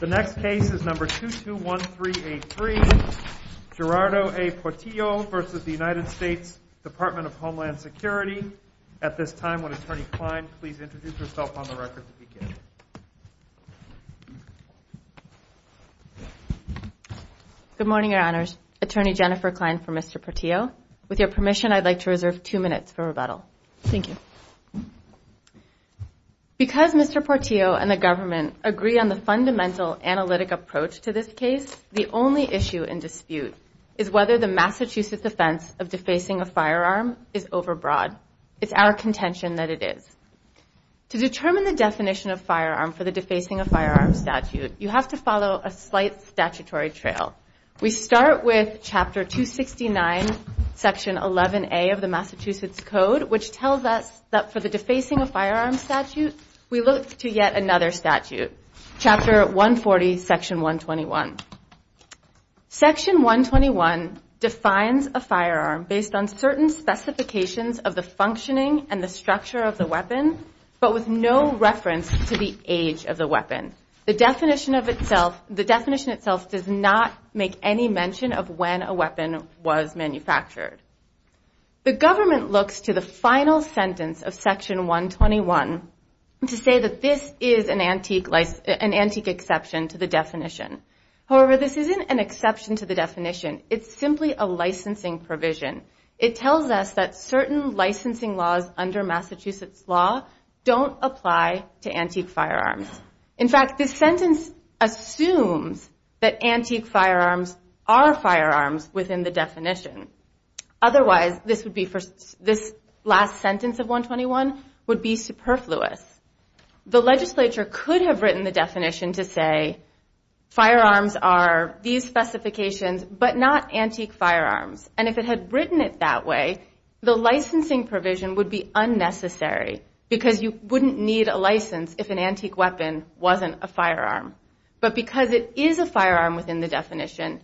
the next case is number two two one three eight three Gerardo a Portillo versus the United States Department of Homeland Security at this time when attorney Klein please introduce yourself on the record to begin good morning your honors attorney Jennifer Klein for mr. Portillo with your permission I'd like to reserve two minutes for rebuttal thank you because mr. Portillo and the fundamental analytic approach to this case the only issue in dispute is whether the Massachusetts defense of defacing a firearm is overbroad it's our contention that it is to determine the definition of firearm for the defacing a firearm statute you have to follow a slight statutory trail we start with chapter 269 section 11a of the Massachusetts Code which tells us that for the defacing a firearm statute we look to yet another statute chapter 140 section 121 section 121 defines a firearm based on certain specifications of the functioning and the structure of the weapon but with no reference to the age of the weapon the definition of itself the definition itself does not make any mention of when a weapon was manufactured the government looks to the final sentence of section 121 to say that this is an antique like an antique exception to the definition however this isn't an exception to the definition it's simply a licensing provision it tells us that certain licensing laws under Massachusetts law don't apply to antique firearms in fact this sentence assumes that antique firearms are firearms within the definition otherwise this would be first this last sentence of 121 would be superfluous the legislature could have written the definition to say firearms are these specifications but not antique firearms and if it had written it that way the licensing provision would be unnecessary because you wouldn't need a license if an antique weapon wasn't a firearm but because it is a firearm within the definition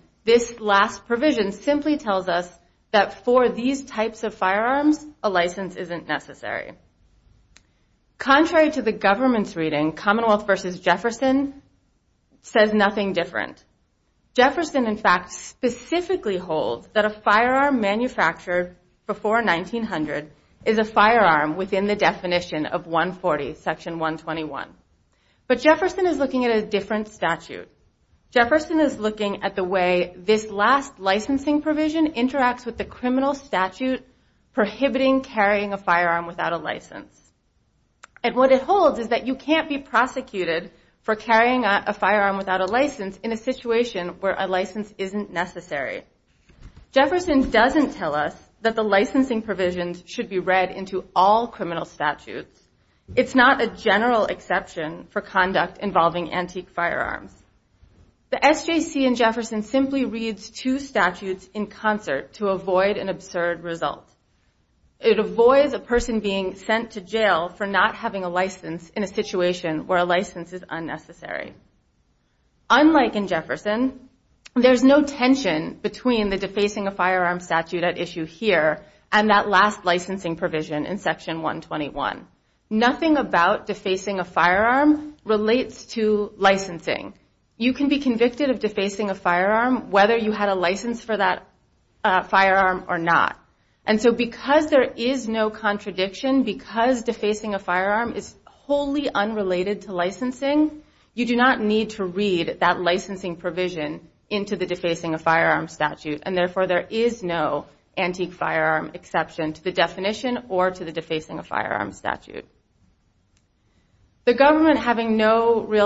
of 140 section 121 but Jefferson is looking at a different statute Jefferson is looking at the way this last licensing provision interacts with the criminal statute prohibiting carrying a firearm without a license and what it holds is that you can't be prosecuted for carrying a firearm without a license in a situation where a license isn't necessary Jefferson doesn't tell us that the licensing provisions should be read into all criminal statutes it's not a general exception for conduct involving antique firearms the SJC in Jefferson simply reads two statutes in concert to avoid an absurd result it avoids a person being sent to jail for not having a license in a situation where a license is unnecessary unlike in Jefferson there's no tension between the defacing a firearm statute at issue here and that last licensing provision in section 121 nothing about defacing a firearm relates to licensing you can be convicted of defacing a firearm whether you had a license for that firearm or not and so because there is no contradiction because defacing a firearm is wholly unrelated to licensing you do not need to read that licensing provision into the defacing a firearm statute and therefore there is no antique firearm exception to the definition or to the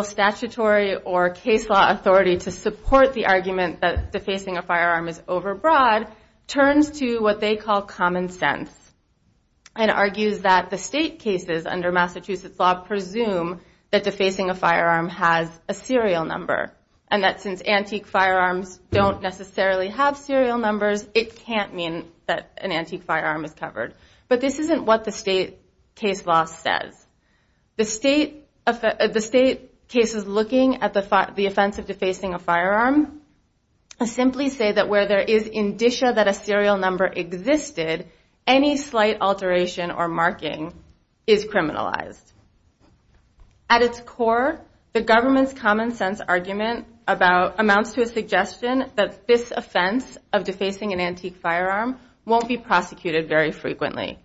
statutory or case law authority to support the argument that defacing a firearm is overbroad turns to what they call common sense and argues that the state cases under Massachusetts law presume that defacing a firearm has a serial number and that since antique firearms don't necessarily have serial numbers it can't mean that an antique firearm is covered but this isn't what the state case law says the state of the state cases looking at the offense of defacing a firearm I simply say that where there is indicia that a serial number existed any slight alteration or marking is criminalized at its core the government's common-sense argument about amounts to a suggestion that this offense of defacing an antique firearm won't be prosecuted very frequently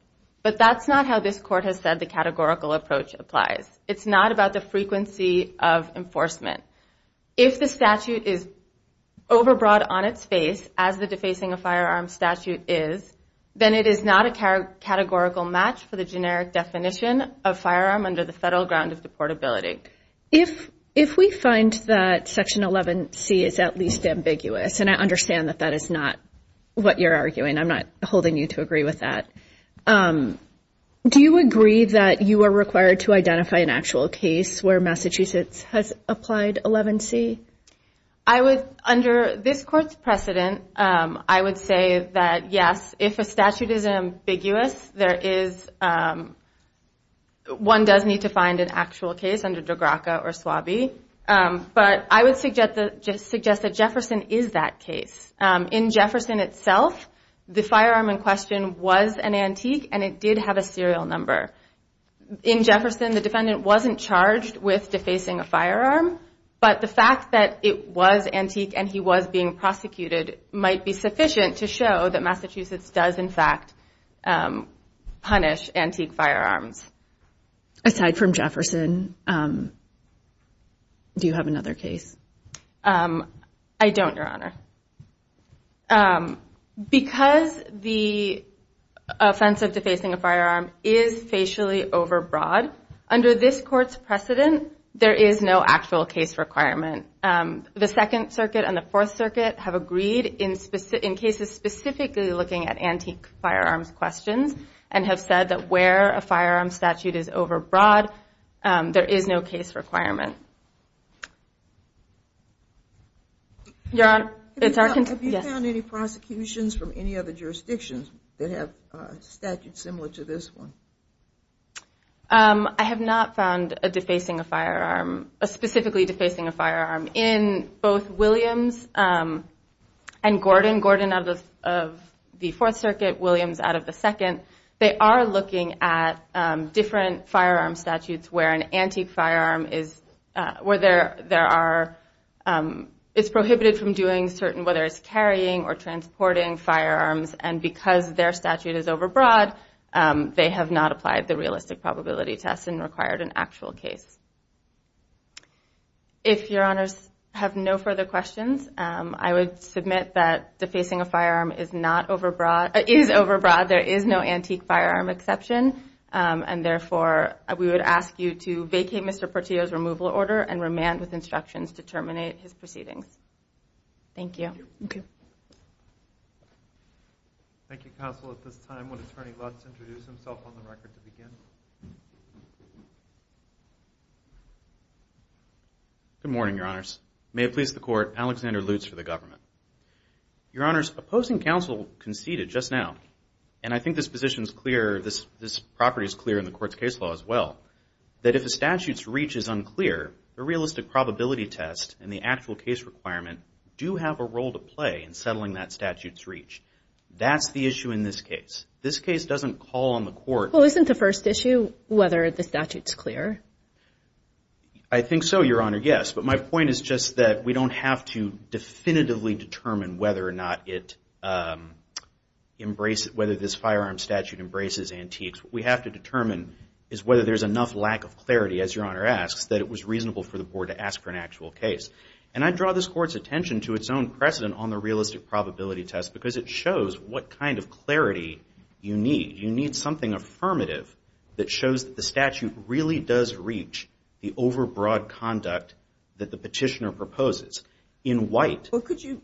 but that's not how this court has said the categorical approach applies it's not about the frequency of enforcement if the statute is overbroad on its face as the defacing a firearm statute is then it is not a categorical match for the generic definition of firearm under the federal ground of deportability if if we find that section 11 C is at least ambiguous and I understand that that is not what you're arguing I'm not holding you to that do you agree that you are required to identify an actual case where Massachusetts has applied 11 C I was under this court's precedent I would say that yes if a statute is ambiguous there is one does need to find an actual case under DeGraca or swabby but I would suggest that just suggest that Jefferson is that case in Jefferson itself the firearm in question was an antique and it did have a serial number in Jefferson the defendant wasn't charged with defacing a firearm but the fact that it was antique and he was being prosecuted might be sufficient to show that Massachusetts does in fact punish firearms aside from Jefferson do you have another case I don't your honor because the offense of defacing a firearm is facially overbroad under this court's precedent there is no actual case requirement the Second Circuit and the Fourth Circuit have agreed in specific in cases specifically looking at antique firearms questions and have said that where a firearm statute is overbroad there is no case requirement your honor it's our country found any prosecutions from any other jurisdictions that have statutes similar to this one I have not found a defacing a firearm a specifically defacing a firearm in both Williams and Gordon of the Fourth Circuit Williams out of the second they are looking at different firearm statutes where an antique firearm is where there there are it's prohibited from doing certain whether it's carrying or transporting firearms and because their statute is overbroad they have not applied the realistic probability test and required an actual case if your honors have no further questions I would submit that defacing a firearm is not overbroad it is overbroad there is no antique firearm exception and therefore we would ask you to vacate mr. Portillo's removal order and remand with instructions to terminate his proceedings thank you good morning your honors may it please the court Alexander Lutz for the government your honors opposing counsel conceded just now and I think this position is clear this this property is clear in the court's case law as well that if the statutes reach is unclear the realistic probability test and the settling that statutes reach that's the issue in this case this case doesn't call on the court well isn't the first issue whether the statutes clear I think so your honor yes but my point is just that we don't have to definitively determine whether or not it embrace it whether this firearm statute embraces antiques we have to determine is whether there's enough lack of clarity as your honor asks that it was reasonable for the board to ask for an actual case and I draw this court's attention to its own precedent on the realistic probability test because it shows what kind of clarity you need you need something affirmative that shows that the statute really does reach the overbroad conduct that the petitioner proposes in white well could you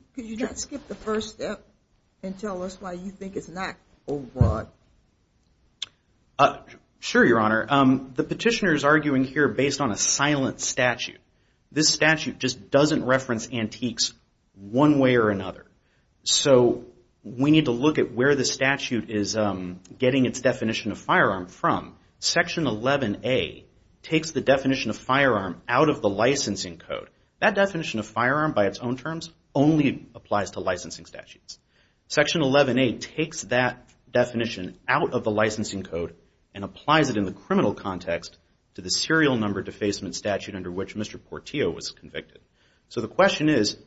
skip the first step and tell us why you think it's not sure your honor the petitioner is arguing here based on a silent statute this statute just doesn't reference antiques one way or another so we need to look at where the statute is getting its definition of firearm from section 11a takes the definition of firearm out of the licensing code that definition of firearm by its own terms only applies to licensing statutes section 11a takes that definition out of the licensing code and applies it in the criminal context to the serial number defacement statute under which mr. Portillo was convicted so the question is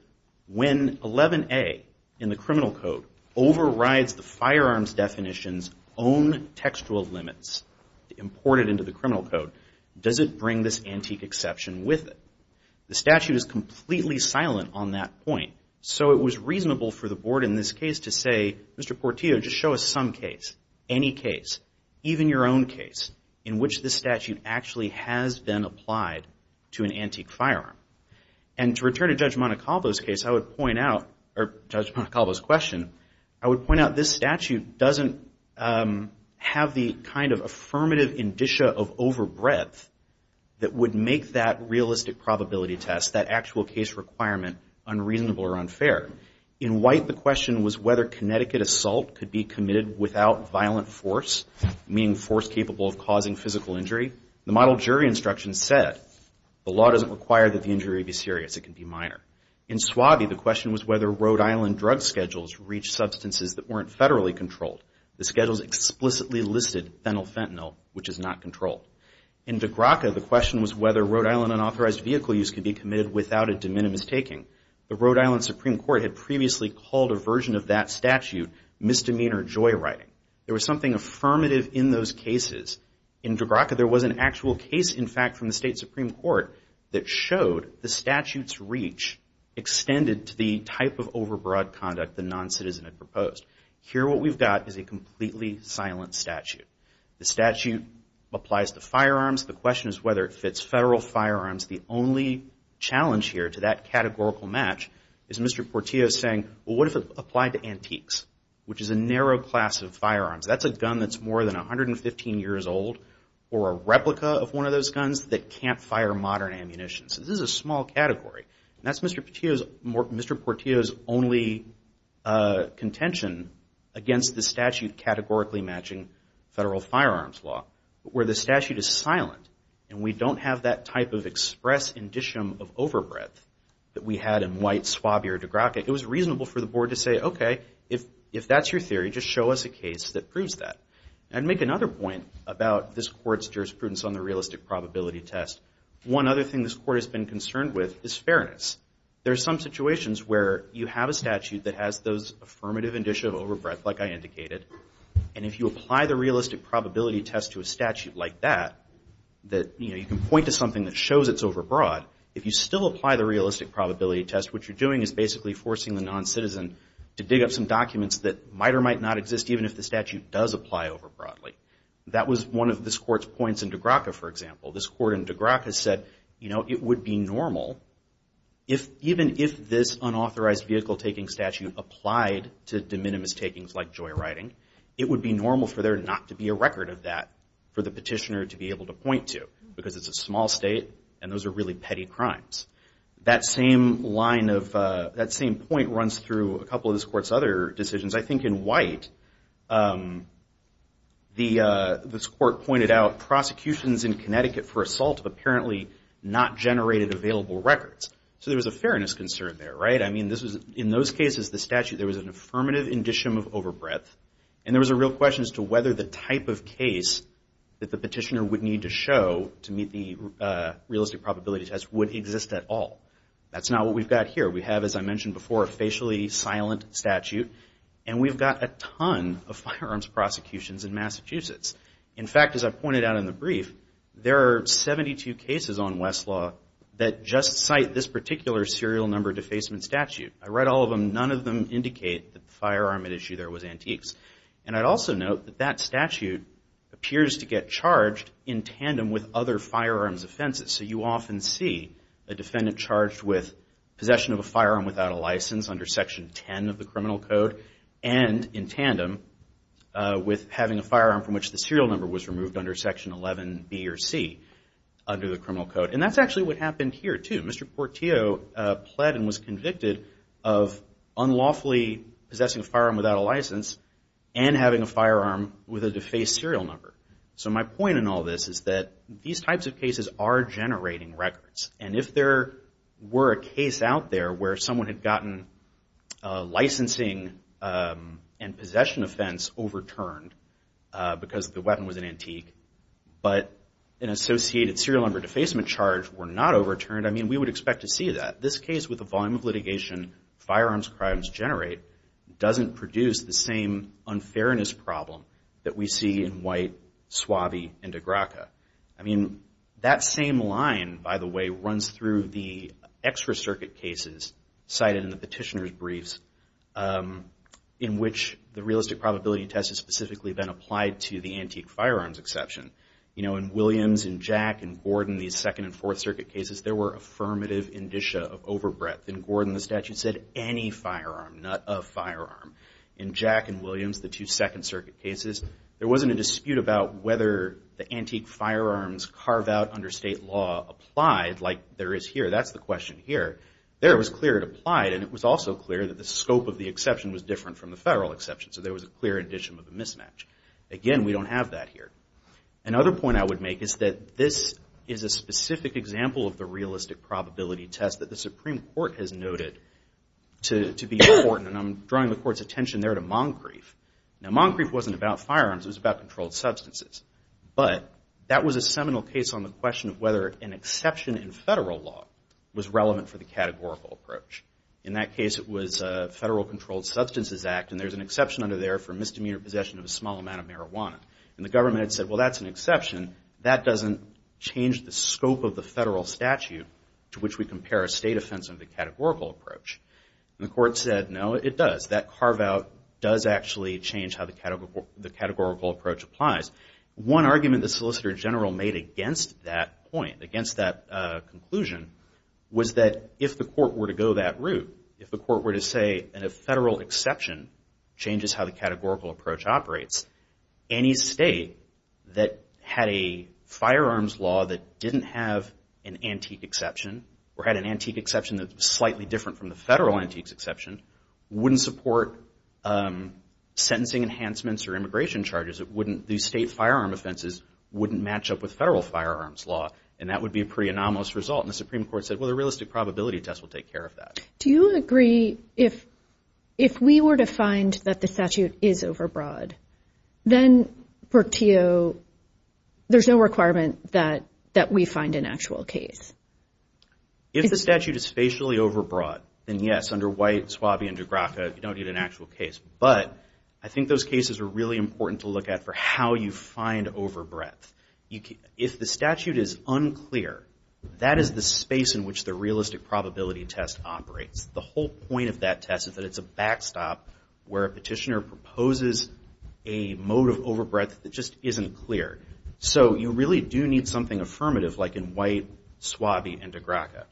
when 11a in the criminal code overrides the firearms definitions own textual limits imported into the criminal code does it bring this antique exception with it the statute is completely silent on that point so it was reasonable for the board in this case to say mr. Portillo just show us some case any case even your own case in which the statute actually has been applied to an antique firearm and to return to judge Monaco those case I would point out or judge my call those question I would point out this statute doesn't have the kind of affirmative indicia of overbreadth that would make that realistic probability test that actual case requirement unreasonable or unfair in white the question was whether Connecticut assault could be committed without violent force meaning force capable of causing physical injury the model jury instruction said the law doesn't require that the injury be serious it can be minor in swabby the question was whether Rhode Island drug schedules reach substances that weren't federally controlled the schedules explicitly listed phenyl fentanyl which is not controlled in the graca the question was whether Rhode Island unauthorized vehicle use could be committed without a de minimis taking the Rhode Island Supreme Court had misdemeanor joyriding there was something affirmative in those cases in draca there was an actual case in fact from the state Supreme Court that showed the statutes reach extended to the type of overbroad conduct the non-citizen had proposed here what we've got is a completely silent statute the statute applies to firearms the question is whether it fits federal firearms the only challenge here to that categorical match is mr. Portillo saying what if it antiques which is a narrow class of firearms that's a gun that's more than a hundred and fifteen years old or a replica of one of those guns that can't fire modern ammunitions this is a small category that's mr. Patios more mr. Portillo's only contention against the statute categorically matching federal firearms law where the statute is silent and we don't have that type of express indicium of overbreadth that we had in white swab your de graca it was if if that's your theory just show us a case that proves that and make another point about this court's jurisprudence on the realistic probability test one other thing this court has been concerned with is fairness there's some situations where you have a statute that has those affirmative indicia of overbreadth like I indicated and if you apply the realistic probability test to a statute like that that you know you can point to something that shows it's overbroad if you still apply the realistic probability test what you're basically forcing the non-citizen to dig up some documents that might or might not exist even if the statute does apply over broadly that was one of this court's points in de graca for example this court in de graca said you know it would be normal if even if this unauthorized vehicle taking statute applied to de minimis takings like joyriding it would be normal for there not to be a record of that for the petitioner to be able to point to because it's a small state and those are really petty crimes that same line of that same point runs through a couple of this court's other decisions I think in white the this court pointed out prosecutions in Connecticut for assault apparently not generated available records so there was a fairness concern there right I mean this was in those cases the statute there was an affirmative indicium of overbreadth and there was a real question as to whether the type of case that the petitioner would need to show to meet the realistic probability test would exist at all that's not what we've got here we have as I mentioned before a facially silent statute and we've got a ton of firearms prosecutions in Massachusetts in fact as I pointed out in the brief there are 72 cases on Westlaw that just cite this particular serial number defacement statute I read all of them none of them indicate the firearm at issue there was antiques and I'd also note that that statute appears to get charged in tandem with other firearms offenses so you often see a defendant charged with possession of a firearm without a license under section 10 of the criminal code and in tandem with having a firearm from which the serial number was removed under section 11 B or C under the criminal code and that's actually what happened here to Mr. Portillo pled and was convicted of unlawfully possessing a firearm without a license and having a firearm with a defaced serial number so my point in all this is that these types of cases are generating records and if there were a case out there where someone had gotten licensing and possession offense overturned because the weapon was an antique but an associated serial number defacement charge were not overturned I mean we would expect to see that this case with the volume of litigation firearms crimes generate doesn't produce the same unfairness problem that we see in white Suave and Agraka I mean that same line by the way runs through the extra circuit cases cited in the petitioners briefs in which the realistic probability test is specifically been applied to the antique firearms exception you know in Williams and Jack and Gordon these second and fourth circuit cases there were affirmative indicia of overbreadth in Gordon the statute said any firearm not a firearm in Jack and Williams the two second cases there wasn't a dispute about whether the antique firearms carved out under state law applied like there is here that's the question here there was clear it applied and it was also clear that the scope of the exception was different from the federal exception so there was a clear addition of a mismatch again we don't have that here another point I would make is that this is a specific example of the realistic probability test that the Supreme Court has noted to be important and I'm drawing the court's attention there to Moncrief now Moncrief wasn't about firearms it was about controlled substances but that was a seminal case on the question of whether an exception in federal law was relevant for the categorical approach in that case it was a federal Controlled Substances Act and there's an exception under there for misdemeanor possession of a small amount of marijuana and the government said well that's an exception that doesn't change the scope of the federal statute to which we compare a state offense under the categorical approach and the carve-out does actually change how the category the categorical approach applies one argument the Solicitor General made against that point against that conclusion was that if the court were to go that route if the court were to say and a federal exception changes how the categorical approach operates any state that had a firearms law that didn't have an antique exception or had an antique exception that's slightly different from the federal antiques exception wouldn't support sentencing enhancements or immigration charges it wouldn't these state firearm offenses wouldn't match up with federal firearms law and that would be a pretty anomalous result in the Supreme Court said well the realistic probability test will take care of that. Do you agree if if we were to find that the statute is overbroad then for TO there's no requirement that that we find an actual case? If the statute is spatially overbroad then yes under White, Swabee, and DeGraca you don't need an actual case but I think those cases are really important to look at for how you find overbreadth. If the statute is unclear that is the space in which the realistic probability test operates the whole point of that test is that it's a backstop where a petitioner proposes a mode of overbreadth that just isn't clear so you really do need something affirmative like in White, Swabee, and DeGraca.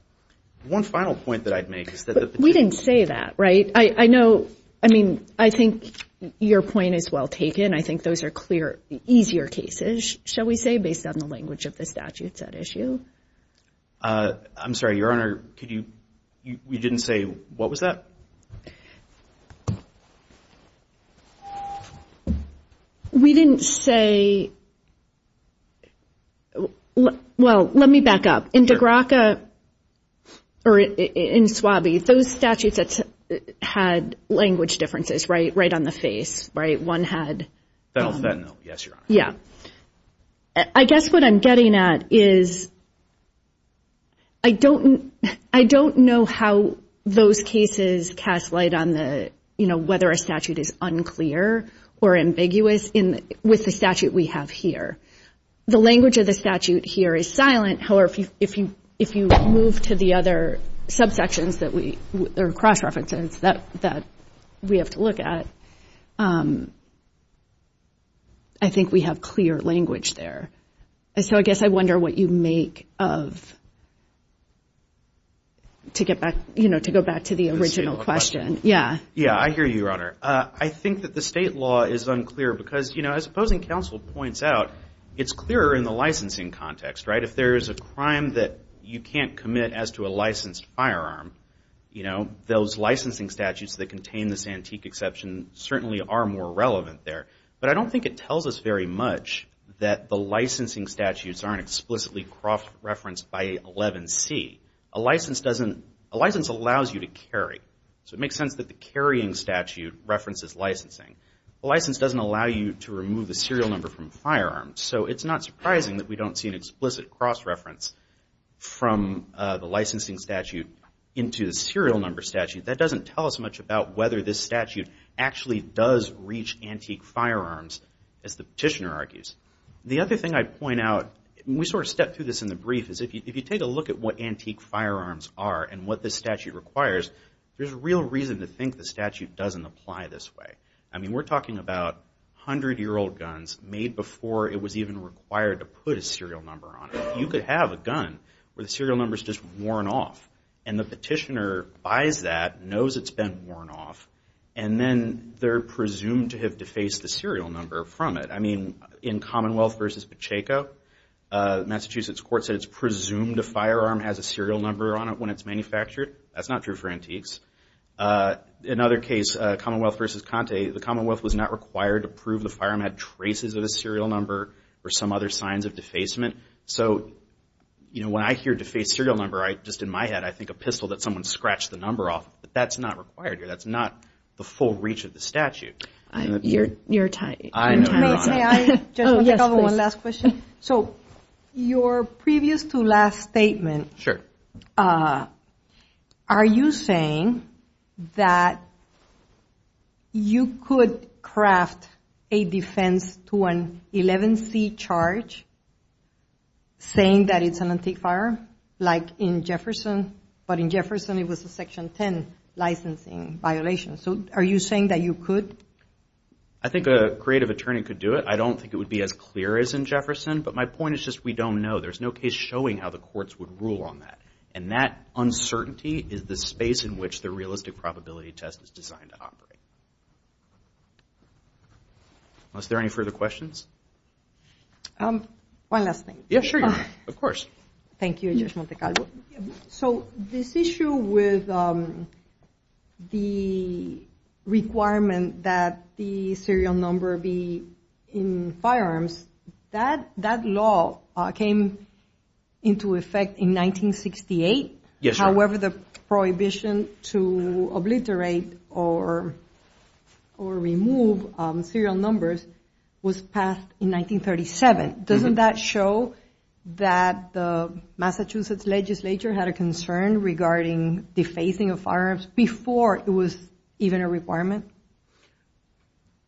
One final point that we didn't say that right I I know I mean I think your point is well taken I think those are clear easier cases shall we say based on the language of the statute that issue. I'm sorry your honor could you you didn't say what was that? We didn't say well let me back up in DeGraca or in Swabee those statutes that had language differences right right on the face right one had yeah I guess what I'm getting at is I don't I don't know how those cases cast light on the you know whether a statute is unclear or ambiguous in with the statute we have here the language of the statute here is silent however if you if you if you move to the other subsections that we there are cross-references that that we have to look at I think we have clear language there so I guess I wonder what you make of to get back you know to go back to the original question yeah yeah I hear you your honor I think that the state law is unclear because you know as opposing counsel points out it's clearer in the licensing context right if there is a crime that you can't commit as to a licensed firearm you know those licensing statutes that contain this antique exception certainly are more relevant there but I don't think it tells us very much that the licensing statutes aren't explicitly cross-referenced by 11c a license doesn't allows you to carry so it makes sense that the carrying statute references licensing license doesn't allow you to remove the serial number from firearms so it's not surprising that we don't see an explicit cross-reference from the licensing statute into the serial number statute that doesn't tell us much about whether this statute actually does reach antique firearms as the petitioner argues the other thing I point out we sort of step through this in the brief is if you take a look at what antique firearms are and what this statute requires there's a real reason to think the statute doesn't apply this way I mean we're talking about hundred-year-old guns made before it was even required to put a serial number on you could have a gun where the serial numbers just worn off and the petitioner buys that knows it's been worn off and then they're presumed to have defaced the serial number from it I mean in Commonwealth versus Pacheco Massachusetts court said it's presumed a firearm has a serial number on it when it's manufactured that's not true for antiques in other case Commonwealth versus Conte the Commonwealth was not required to prove the firearm had traces of a serial number or some other signs of defacement so you know when I hear defaced serial number I just in my head I think a pistol that someone scratched the number off but that's not required here that's not the full reach of the your previous to last statement are you saying that you could craft a defense to an 11c charge saying that it's an antique firearm like in Jefferson but in Jefferson it was a section 10 licensing violation so are you saying that you could I think a creative attorney could do it I don't think it would be as clear as in Jefferson but my point is just we don't know there's no case showing how the courts would rule on that and that uncertainty is the space in which the realistic probability test is designed to operate unless there are any further questions one last thing yeah sure yeah of course thank you so this issue with the requirement that the serial number be in firearms that that law came into effect in 1968 yes however the prohibition to obliterate or or remove serial numbers was passed in 1937 doesn't that show that the Massachusetts legislature had a concern regarding the facing of firearms before it was even a requirement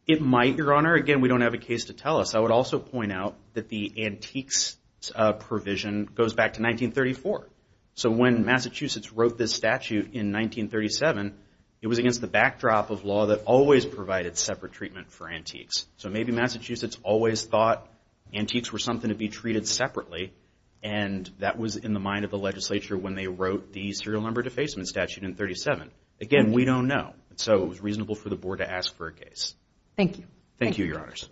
it might your honor again we don't have a case to tell us I would also point out that the antiques provision goes back to 1934 so when Massachusetts wrote this statute in 1937 it was against the backdrop of law that always provided separate treatment for antiques so maybe Massachusetts always thought antiques were something to be treated separately and that was in the mind of the legislature when they wrote the serial number defacement statute in 37 again we don't know so it was reasonable for the board to ask for a case thank you thank you your honors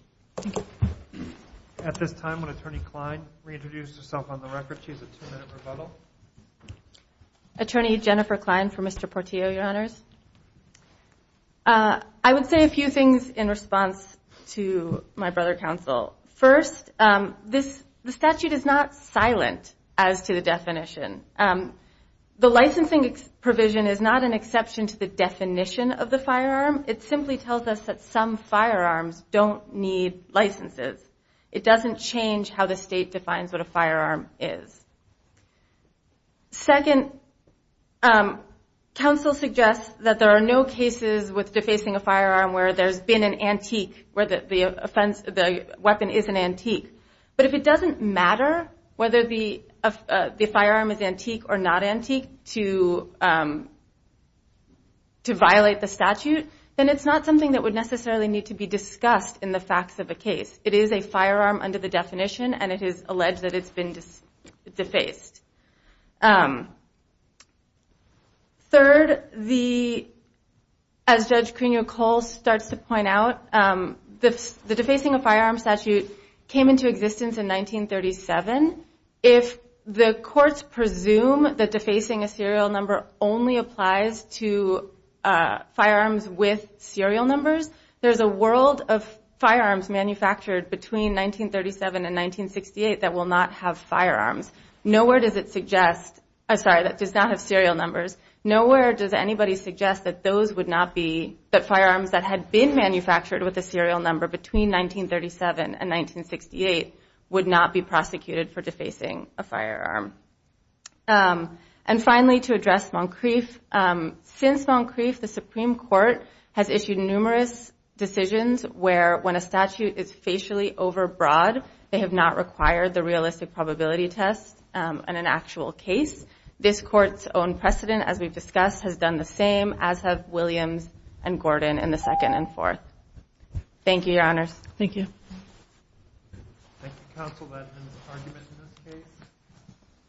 at this time when attorney Klein reintroduced herself on the record she's a two-minute rebuttal attorney Jennifer Klein for mr. Portillo your honors I would say a few things in response to my the licensing provision is not an exception to the definition of the firearm it simply tells us that some firearms don't need licenses it doesn't change how the state defines what a firearm is second council suggests that there are no cases with defacing a firearm where there's been an antique where the offense the weapon is an antique but if it doesn't matter whether the of the firearm is antique or not antique to to violate the statute then it's not something that would necessarily need to be discussed in the facts of a case it is a firearm under the definition and it is alleged that it's been defaced third the as judge Crenshaw Cole starts to point out this defacing a firearm statute came into existence in 1937 if the courts presume that defacing a serial number only applies to firearms with serial numbers there's a world of firearms manufactured between 1937 and 1968 that will not have firearms nowhere does it suggest I'm sorry that does not have serial numbers nowhere does anybody suggest that those would not be that firearms that had been manufactured with a serial number between 1937 and 1968 would not be prosecuted for defacing a firearm and finally to address Moncrieff since Moncrieff the Supreme Court has issued numerous decisions where when a statute is facially overbroad they have not required the realistic probability test and an actual case this court's own precedent as we've discussed has done the same as have Williams and Gordon in the second and fourth thank you your honors thank you